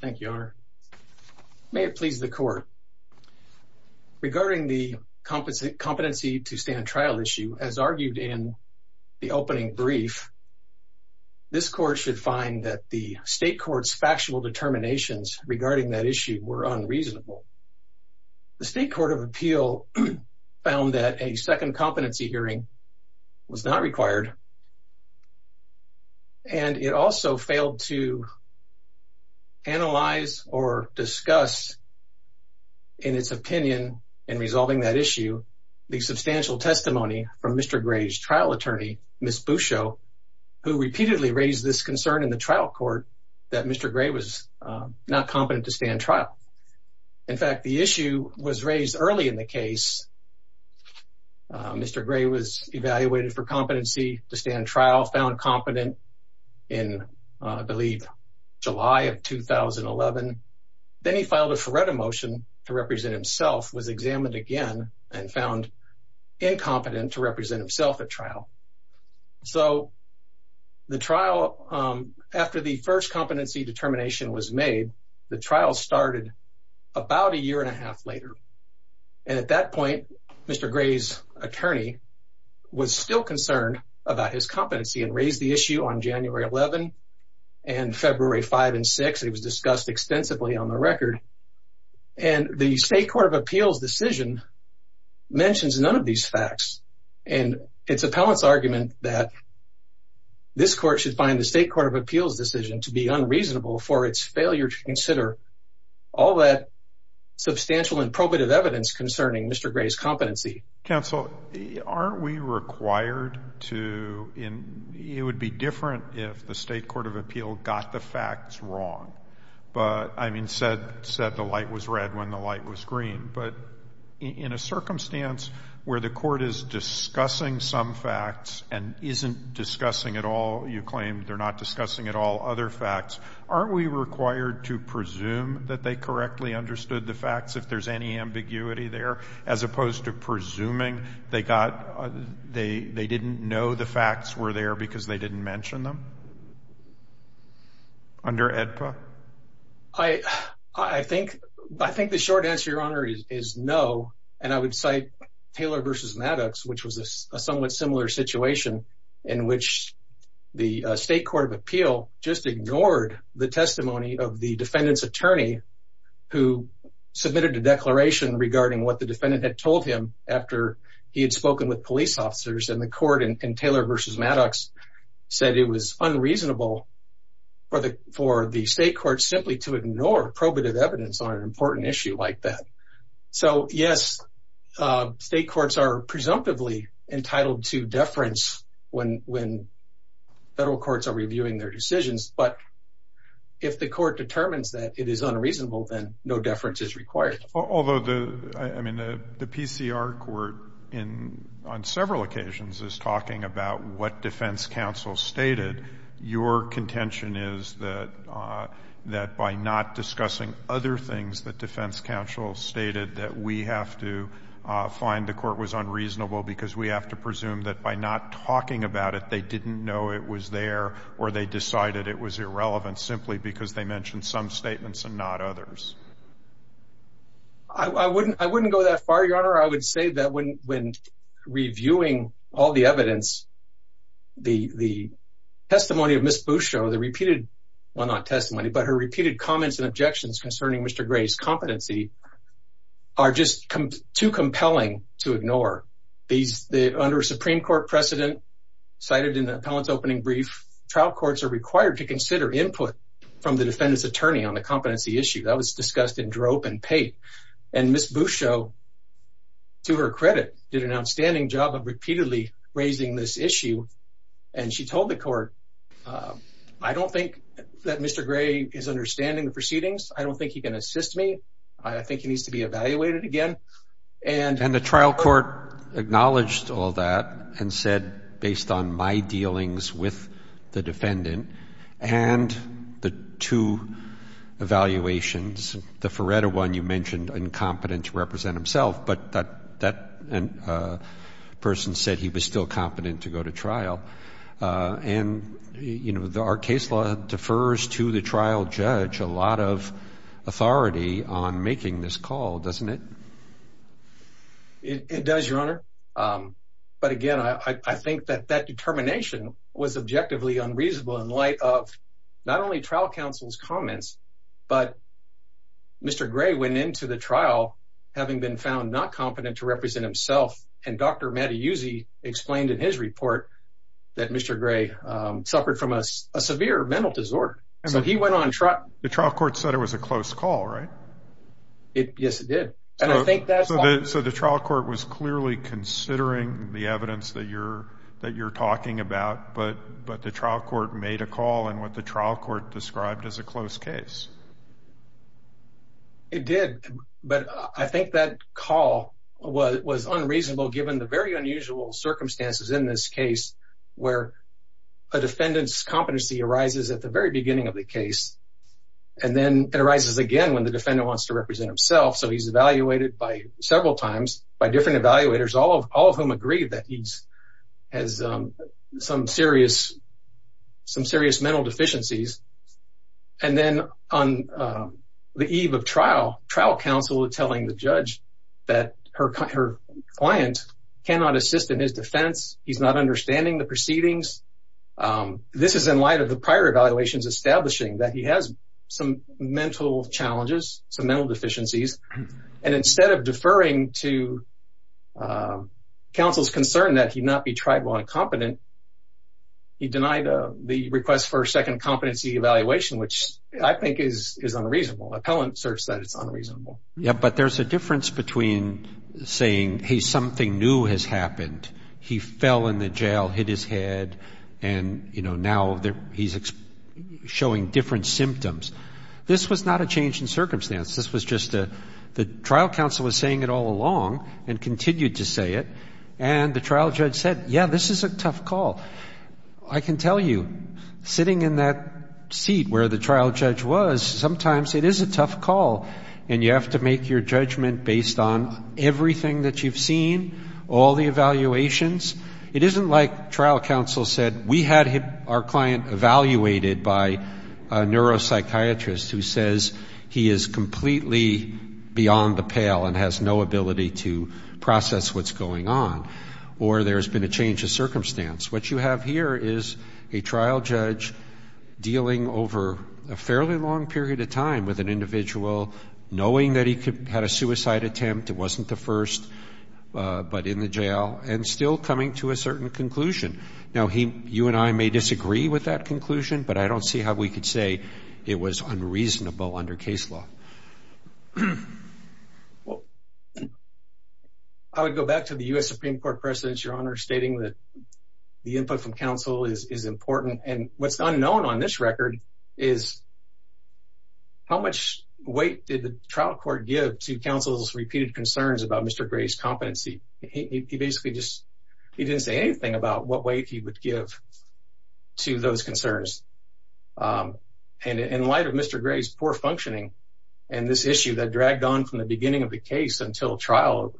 Thank you, Your Honor. May it please the Court, regarding the competency to stand trial issue, as argued in the opening brief, this Court should find that the State Court's factual determinations regarding that issue were unreasonable. The State Court of Appeal found that a second competency hearing was not required, and it also failed to analyze or discuss, in its opinion, in resolving that issue, the substantial testimony from Mr. Gray's trial attorney, Ms. Bouchot, who repeatedly raised this concern in the trial court that Mr. Gray was not competent to stand trial. In fact, the issue was raised early in the case. Mr. Gray was evaluated for competency to stand trial, found competent in, I believe, July of 2011. Then he filed a FORETA motion to represent himself, was examined again, and found incompetent to represent himself at trial. So the trial, after the first competency determination was made, the trial started about a year and a half later. And at that point, Mr. Gray's attorney was still concerned about his competency and raised the issue on January 11 and February 5 and 6. It was discussed extensively on the record. And the State Court of Appeal's decision mentions none of these facts. And it's appellant's argument that this Court should find the State Court of Appeal's decision to be unreasonable for its failure to consider all that substantial and probative evidence concerning Mr. Gray's competency. Counsel, aren't we required to, it would be different if the State Court of Appeal got the facts wrong. But, I mean, said the light was red when the light was green. But in a circumstance where the Court is discussing some facts and isn't discussing at all, you claim they're not to presume that they correctly understood the facts, if there's any ambiguity there, as opposed to presuming they didn't know the facts were there because they didn't mention them? Under AEDPA? I think the short answer, Your Honor, is no. And I would cite Taylor v. Maddox, which was a somewhat similar situation in which the State Court of Appeal just ignored the testimony of the defendant's attorney who submitted a declaration regarding what the defendant had told him after he had spoken with police officers. And the Court in Taylor v. Maddox said it was unreasonable for the State Court simply to ignore probative evidence on an important issue like that. So, yes, State Courts are presumptively entitled to deference when Federal Courts are reviewing their decisions. But if the Court determines that it is unreasonable, then no deference is required. Although, I mean, the PCR Court on several occasions is talking about what defense counsel stated. Your contention is that by not discussing other things that defense counsel stated that we have to find the Court was unreasonable because we have to presume that by not talking about it, they didn't know it was there or they decided it was irrelevant simply because they mentioned some statements and not others. I wouldn't go that far, Your Honor. I would say that when reviewing all the evidence, the testimony of Ms. Bustro, the repeated, well, not testimony, but her repeated comments and objections concerning Mr. Gray's competency are just too compelling to ignore. Under a Supreme Court precedent cited in the appellant's opening brief, trial courts are required to consider input from the defendant's attorney on the competency issue. That was discussed in Drope and Pate. And Ms. Bustro, to her credit, did an outstanding job of repeatedly raising this issue. And she told the Court, I don't think that Mr. Gray is understanding the proceedings. I don't think he can assist me. I think he needs to be evaluated again. And the trial court acknowledged all that and said, based on my dealings with the defendant and the two evaluations, the Feretta one you mentioned, incompetent to represent himself, but that person said he was still competent to go to trial. And, you know, our case law refers to the trial judge a lot of authority on making this call, doesn't it? It does, Your Honor. But again, I think that that determination was objectively unreasonable in light of not only trial counsel's comments, but Mr. Gray went into the trial having been found not competent to represent himself. And Dr. Mattiuzzi explained in his report that Mr. Gray suffered from a severe mental disorder. So he went on trial. The trial court said it was a close call, right? Yes, it did. So the trial court was clearly considering the evidence that you're talking about, but the trial court made a call in what the trial court described as a close case. It did. But I think that call was unreasonable given the very unusual circumstances in this case where a defendant's competency arises at the very beginning of the case. And then it arises again when the defendant wants to represent himself. So he's evaluated by several times by different evaluators, all of whom agree that he has some serious mental deficiencies. And then on the eve of trial, trial counsel telling the judge that her client cannot assist in his defense. He's not understanding the proceedings. This is in light of the prior evaluations establishing that he has some mental challenges, some mental deficiencies. And instead of deferring to counsel's concern that he not be tried while incompetent, he denied the request for a second competency evaluation, which I think is unreasonable. Appellant asserts that it's unreasonable. But there's a difference between saying, hey, something new has happened. He fell in the jail, hit his head, and now he's showing different symptoms. This was not a change in circumstance. This was just the trial counsel was saying it all along and continued to say it. And the trial judge said, yeah, this is a tough call. I can tell you, sitting in that seat where the trial judge was, sometimes it is a tough call and you have to make your judgment based on everything that you've seen, all the evaluations. It isn't like trial counsel said, we had our client evaluated by a neuropsychiatrist who says he is completely beyond the pale and has no ability to process what's going on. Or there's been a change of circumstance. What you have here is a trial judge dealing over a fairly long period of time with an individual, knowing that he had a suicide attempt, it wasn't the first, but in the jail, and still coming to a certain conclusion. Now, you and I may disagree with that conclusion, but I don't see how we could say it was unreasonable under case law. I would go back to the U.S. Supreme Court precedents, Your Honor, stating that input from counsel is important. And what's unknown on this record is how much weight did the trial court give to counsel's repeated concerns about Mr. Gray's competency? He basically just, he didn't say anything about what weight he would give to those concerns. And in light of Mr. Gray's poor functioning and this issue that dragged on from the beginning of the case until trial,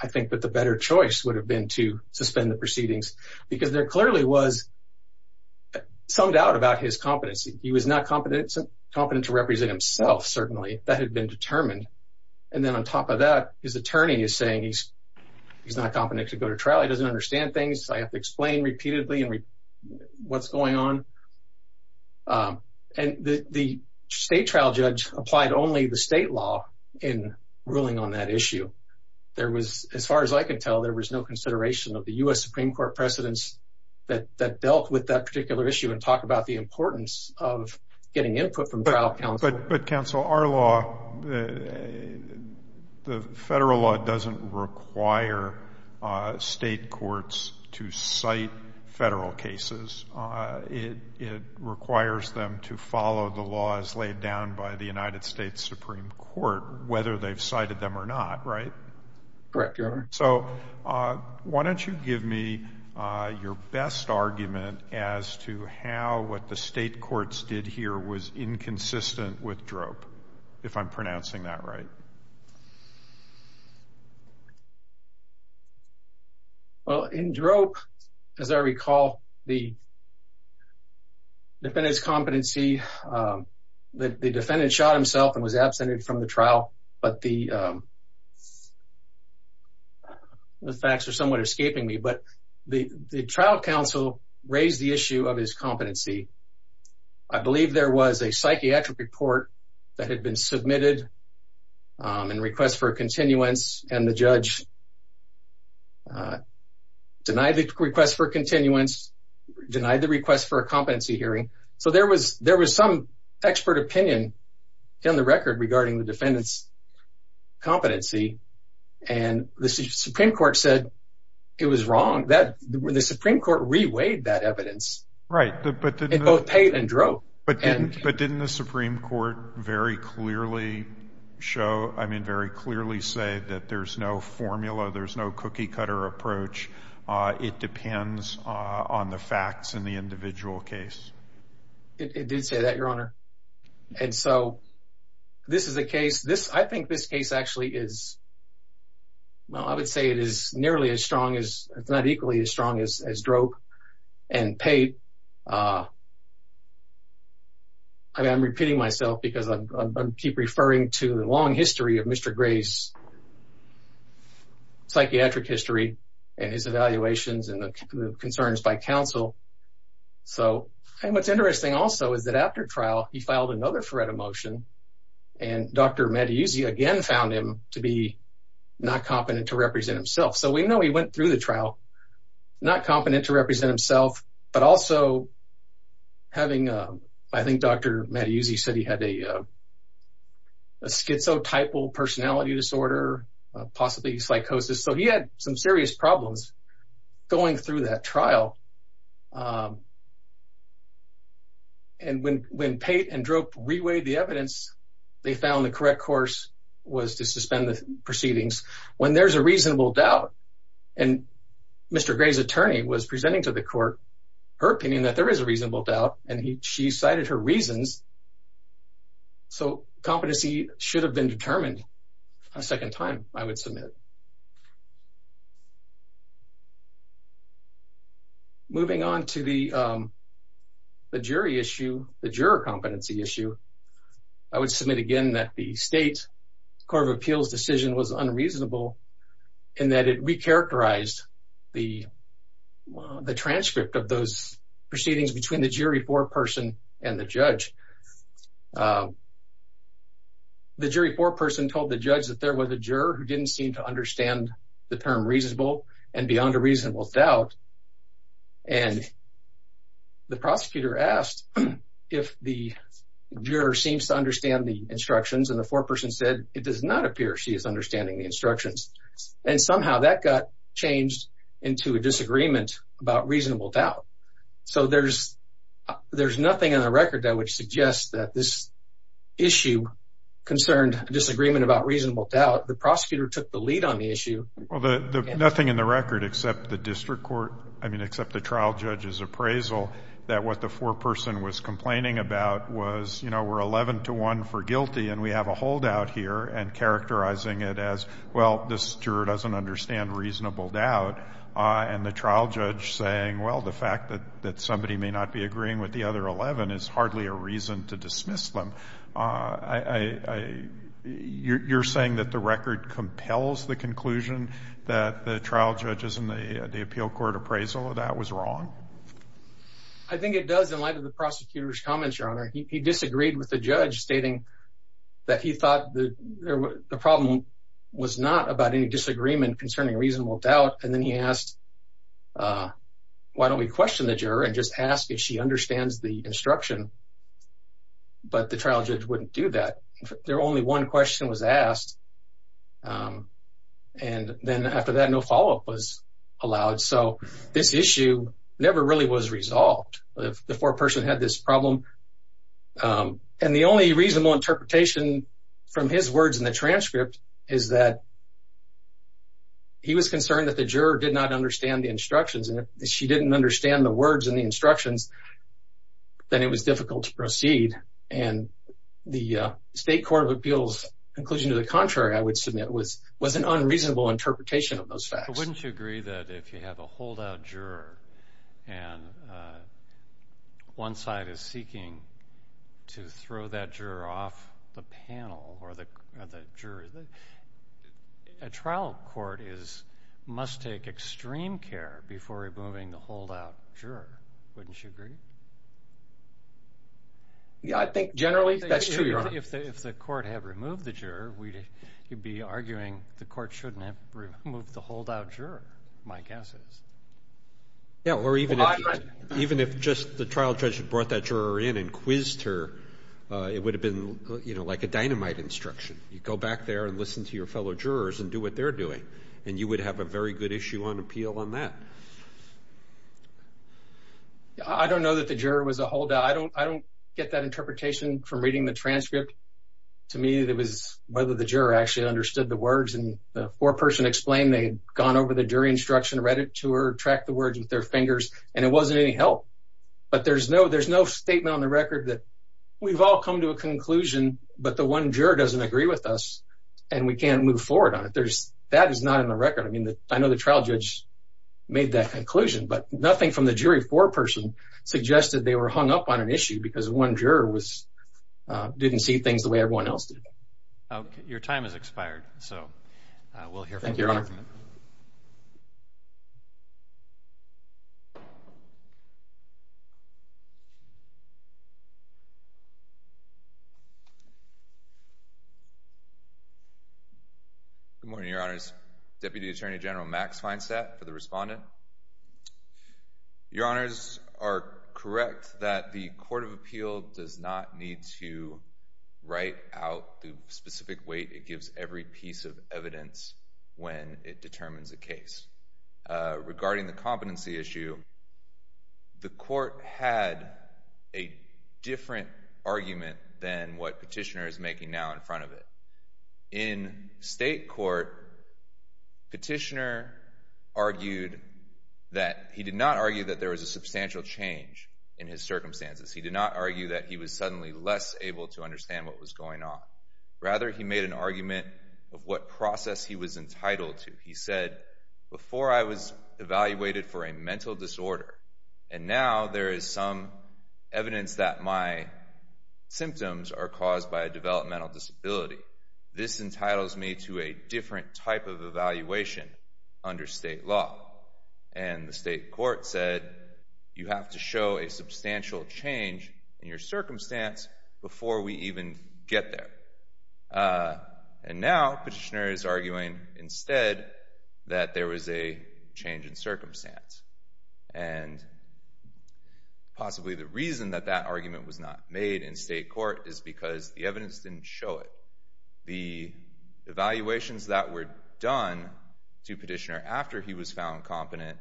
I think that the better choice would have been to suspend the proceedings, because there clearly was some doubt about his competency. He was not competent to represent himself, certainly. That had been determined. And then on top of that, his attorney is saying he's not competent to go to trial, he doesn't understand things, I have to explain repeatedly what's going on. And the state trial judge applied only the state law in ruling on that issue. There was, as far as I could tell, there was no consideration of the U.S. Supreme Court precedents that dealt with that particular issue and talked about the importance of getting input from trial counsel. But counsel, our law, the federal law doesn't require state courts to cite federal cases. It requires them to follow the laws laid down by the United States Supreme Court, whether they've cited them or not, right? Correct, Your Honor. So why don't you give me your best argument as to how what the state courts did here was inconsistent with Drope, if I'm pronouncing that right? Well, in Drope, as I recall, the defendant's competency, the defendant shot himself and was absented from the trial, but the facts are somewhat escaping me. But the trial counsel raised the issue of his competency. I believe there was a psychiatric report that had been submitted in request for continuance, and the judge denied the request for continuance, denied the request for a competency hearing. So there was some expert opinion down the record regarding the defendant's competency, and the Supreme Court said it was wrong. The Supreme Court re-weighed that evidence. Right. In both Pate and Drope. But didn't the Supreme Court very clearly show, I mean, very clearly say that there's no formula, there's no cookie-cutter approach, it depends on the It did say that, Your Honor. And so this is a case, I think this case actually is, well, I would say it is nearly as strong as, it's not equally as strong as Drope and Pate. I mean, I'm repeating myself because I keep referring to the long history of Mr. Gray's psychiatric history and his evaluations and the concerns by counsel. So, and what's interesting also is that after trial, he filed another threat of motion, and Dr. Mattiuzzi again found him to be not competent to represent himself. So we know he went through the trial, not competent to represent himself, but also having, I think Dr. Mattiuzzi said he had a schizotypal personality disorder, possibly psychosis. So he had some serious problems going through that trial. And when Pate and Drope reweighed the evidence, they found the correct course was to suspend the proceedings when there's a reasonable doubt. And Mr. Gray's attorney was presenting to the court her opinion that there is a reasonable doubt, and she cited her reasons. So competency should have been determined a second time, I would submit. Moving on to the jury issue, the juror competency issue, I would submit again that the state court of appeals decision was unreasonable in that it recharacterized the transcript of those proceedings between the jury foreperson and the judge. The jury foreperson told the judge that there was a juror who didn't seem to understand the term reasonable and beyond a reasonable doubt. And the prosecutor asked if the juror seems to understand the instructions, and the foreperson said it does not appear she is understanding the instructions. And somehow that got changed into a disagreement about reasonable doubt. So there's nothing in the record that would suggest that this issue concerned a disagreement about reasonable doubt. The prosecutor took the lead on the issue. Well, nothing in the record except the district court, I mean, except the trial judge's appraisal, that what the foreperson was complaining about was, you know, we're 11 to 1 for guilty, and we have a holdout here, and characterizing it as, well, this juror doesn't understand reasonable doubt. And the trial judge saying, well, the fact that somebody may not be agreeing with the other 11 is hardly a reason to dismiss them. You're saying that the record compels the conclusion that the trial judges and the appeal court appraisal of that was wrong? I think it does in light of the prosecutor's comments, Your Honor. He disagreed with the judge stating that he thought the problem was not about any disagreement concerning reasonable doubt. And then he asked, why don't we question the juror and just ask if she understands the instruction? But the trial judge wouldn't do that. There only one question was asked. And then after that, no follow-up was allowed. So this issue never really was resolved. The foreperson had this problem. And the only reasonable interpretation from his words in the juror did not understand the instructions. And if she didn't understand the words in the instructions, then it was difficult to proceed. And the State Court of Appeals' conclusion to the contrary, I would submit, was an unreasonable interpretation of those facts. But wouldn't you agree that if you have a holdout juror, and one side is seeking to throw that juror off the panel or the jury, a trial court must take extreme care before removing the holdout juror? Wouldn't you agree? Yeah, I think generally that's true, Your Honor. If the court had removed the juror, you'd be arguing the court shouldn't have removed the holdout juror, my guess is. Yeah, or even if just the trial judge had brought that juror in and quizzed her, it would have been like a dynamite instruction. You'd go back there and listen to your fellow jurors and do what they're doing. And you would have a very good issue on appeal on that. I don't know that the juror was a holdout. I don't get that interpretation from reading the transcript. To me, it was whether the juror actually understood the words. And the foreperson explained they'd gone over the jury instruction, read it to her, tracked the words with their fingers, and it wasn't any help. But there's no statement on the record that we've all come to a conclusion, but the one juror doesn't agree with us, and we can't move forward on it. That is not in the record. I mean, I know the trial judge made that conclusion, but nothing from the jury foreperson suggested they were hung up on an issue because one juror didn't see things the way everyone else did. Your time has expired, so we'll hear from you. Thank you, Your Honor. Good morning, Your Honors. Deputy Attorney General Max Feinstadt for the Respondent. Your Honors are correct that the Court of Appeal does not need to write out the specific weight it gives every piece of evidence when it determines a case. Regarding the competency issue, the Court had a different argument than what Petitioner is making now in front of it. In state court, Petitioner argued that—he did not argue that there was a substantial change in his circumstances. He did not argue that he was suddenly less able to understand what was going on. Rather, he made an argument of what process he was entitled to. He said, before I was evaluated for a mental disorder, and now there is some evidence that my symptoms are caused by a developmental disability. This entitles me to a different type of evaluation under state law. And the state court said, you have to show a substantial change in your circumstance before we even get there. And now, Petitioner is arguing instead that there was a change in circumstance. And possibly the reason that that argument was not made in state court is because the evidence didn't show it. The evaluations that were done to Petitioner after he was found competent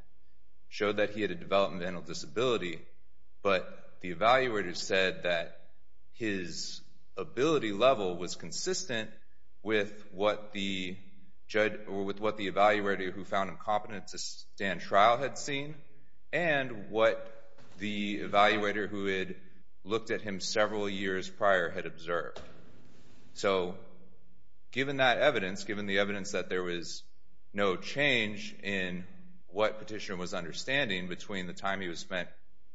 showed that he had a developmental disability, but the evaluator said that his ability level was consistent with what the evaluator who found him competent to stand trial had seen and what the evaluator who had looked at him several years prior had observed. So, given that evidence, given the evidence that there was no change in what Petitioner was understanding between the time he was found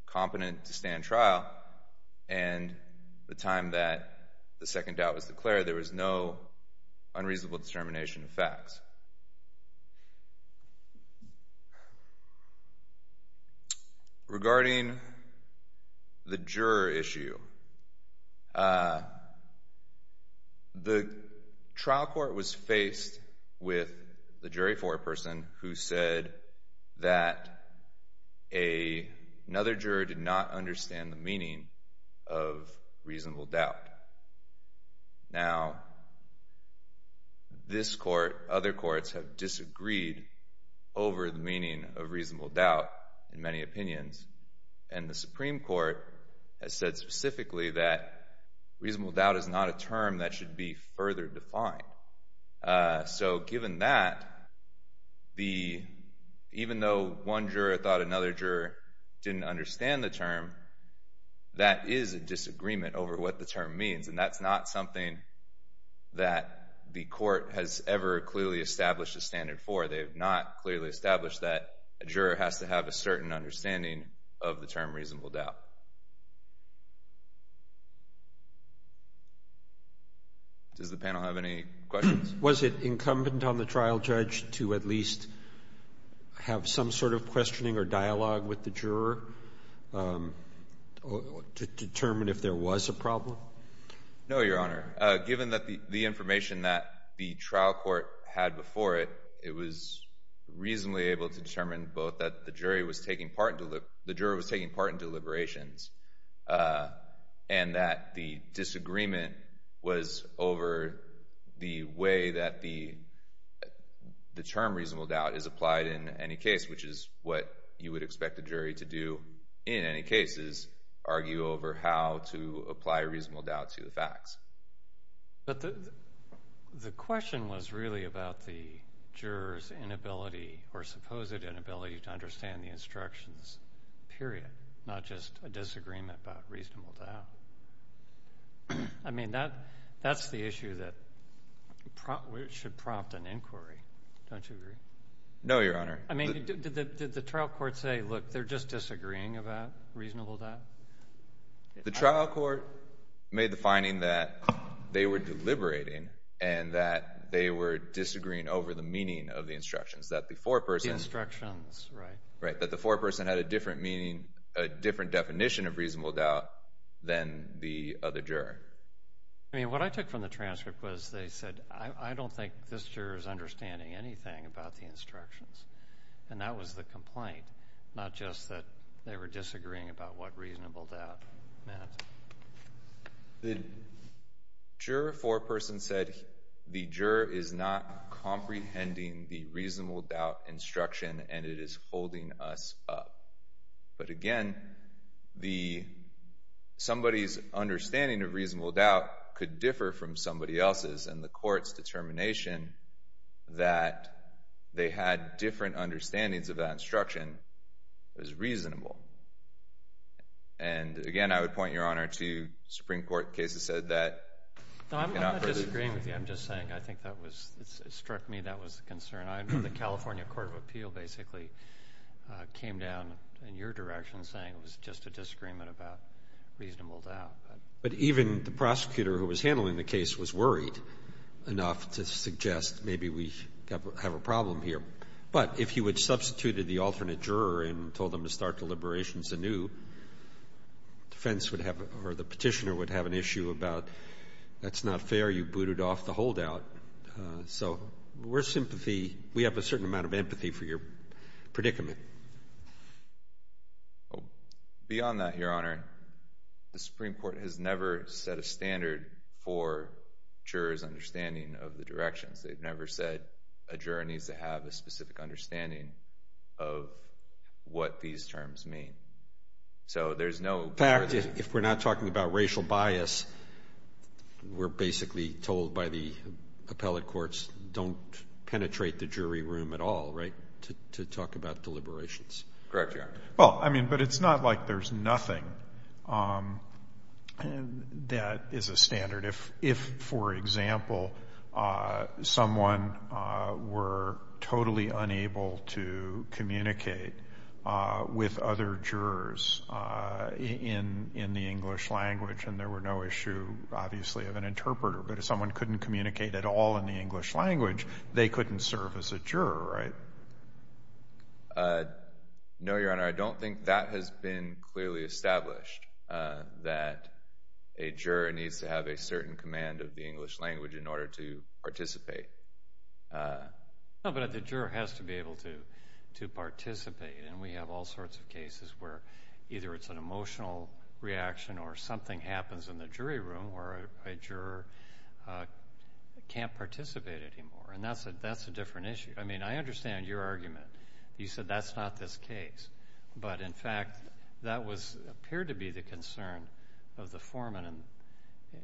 competent to stand trial and the time that the second doubt was declared, there was no unreasonable determination of facts. Regarding the juror issue, the trial court was faced with the jury foreperson who said that another juror did not understand the meaning of reasonable doubt. Now, this court, other courts have disagreed over the meaning of reasonable doubt in many opinions, and the Supreme Court has said specifically that reasonable doubt is not a term that should be further defined. So, given that, even though one juror thought another juror didn't understand the term, that is a disagreement over what the term means, and that's not something that the court has ever clearly established a standard for. They have not clearly established that a juror has to have a certain understanding of the term reasonable doubt. Does the panel have any questions? Was it incumbent on the trial judge to at least have some sort of questioning or dialogue with the juror to determine if there was a problem? No, Your Honor. Given that the information that the trial court had before it, it was reasonably able to determine both that the jury was taking part in deliberation and that the trial court was taking part in deliberations, and that the disagreement was over the way that the term reasonable doubt is applied in any case, which is what you would expect a jury to do in any cases, argue over how to apply reasonable doubt to the facts. But the question was really about the juror's inability or supposed inability to understand the instructions, period, not just a disagreement about reasonable doubt. I mean, that's the issue that should prompt an inquiry. Don't you agree? No, Your Honor. I mean, did the trial court say, look, they're just disagreeing about reasonable doubt? The trial court made the finding that they were deliberating and that they were disagreeing over the meaning of the instructions, that before a person— The instructions, right. Right, that the foreperson had a different meaning, a different definition of reasonable doubt than the other juror. I mean, what I took from the transcript was they said, I don't think this juror is understanding anything about the instructions, and that was the complaint, not just that they were disagreeing about what reasonable doubt meant. The juror foreperson said the juror is not comprehending the reasonable doubt instruction and it is holding us up. But again, somebody's understanding of reasonable doubt could differ from somebody else's, and the court's determination that they had different understandings of that instruction was reasonable. And again, I would point, Your Honor, to Supreme Court cases said that— No, I'm not disagreeing with you. I'm just saying I think that was—it struck me that was a concern. The California Court of Appeal basically came down in your direction saying it was just a disagreement about reasonable doubt. But even the prosecutor who was handling the case was worried enough to suggest maybe we have a problem here. But if you had substituted the alternate juror and told them to start deliberations anew, defense would have—or the petitioner would have an issue about, that's not fair, you booted off the holdout. So we're sympathy—we have a certain amount of empathy for your predicament. Beyond that, Your Honor, the Supreme Court has never set a standard for jurors' understanding of the directions. They've never said a juror needs to have a specific understanding of what these terms mean. So there's no— If we're not talking about racial bias, we're basically told by the appellate courts don't penetrate the jury room at all, right, to talk about deliberations. Correct, Your Honor. Well, I mean, but it's not like there's nothing that is a standard. If, for example, someone were totally unable to communicate with other jurors in the English language and there were no issue, obviously, of an interpreter, but if someone couldn't communicate at all in the English language, they couldn't serve as a juror, right? No, Your Honor. I don't think that has been clearly established, that a juror needs to have a certain command of the English language in order to participate. No, but the juror has to be able to participate, and we have all sorts of cases where either it's an emotional reaction or something happens in the jury room where a juror can't participate anymore, and that's a different issue. I mean, I understand your argument. You said that's not this case, but, in fact, that appeared to be the concern of the foreman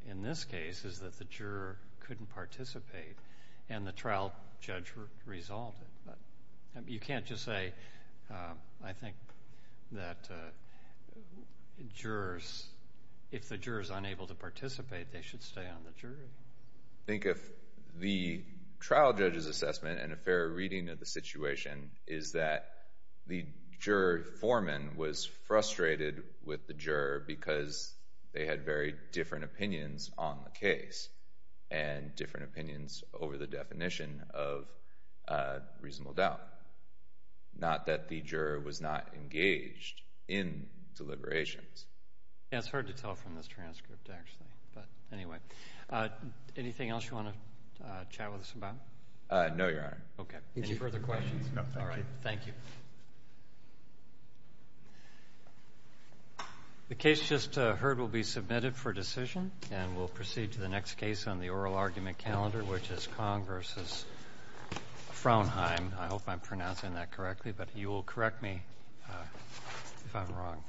in this case is that the juror couldn't participate and the trial judge resolved it. You can't just say, I think, that if the juror is unable to participate, they should stay on the jury. I think if the trial judge's assessment and a fair reading of the situation is that the juror foreman was frustrated with the juror because they had very different opinions on the case and different opinions over the definition of reasonable doubt, not that the juror was not engaged in deliberations. Yeah, it's hard to tell from this transcript, actually, but anyway. Anything else you want to chat with us about? No, Your Honor. Okay. Any further questions? No, thank you. Thank you. The case just heard will be submitted for decision, and we'll proceed to the next case on the oral argument calendar, which is Kong v. Fraunheim. I hope I'm pronouncing that correctly, but you will correct me if I'm wrong.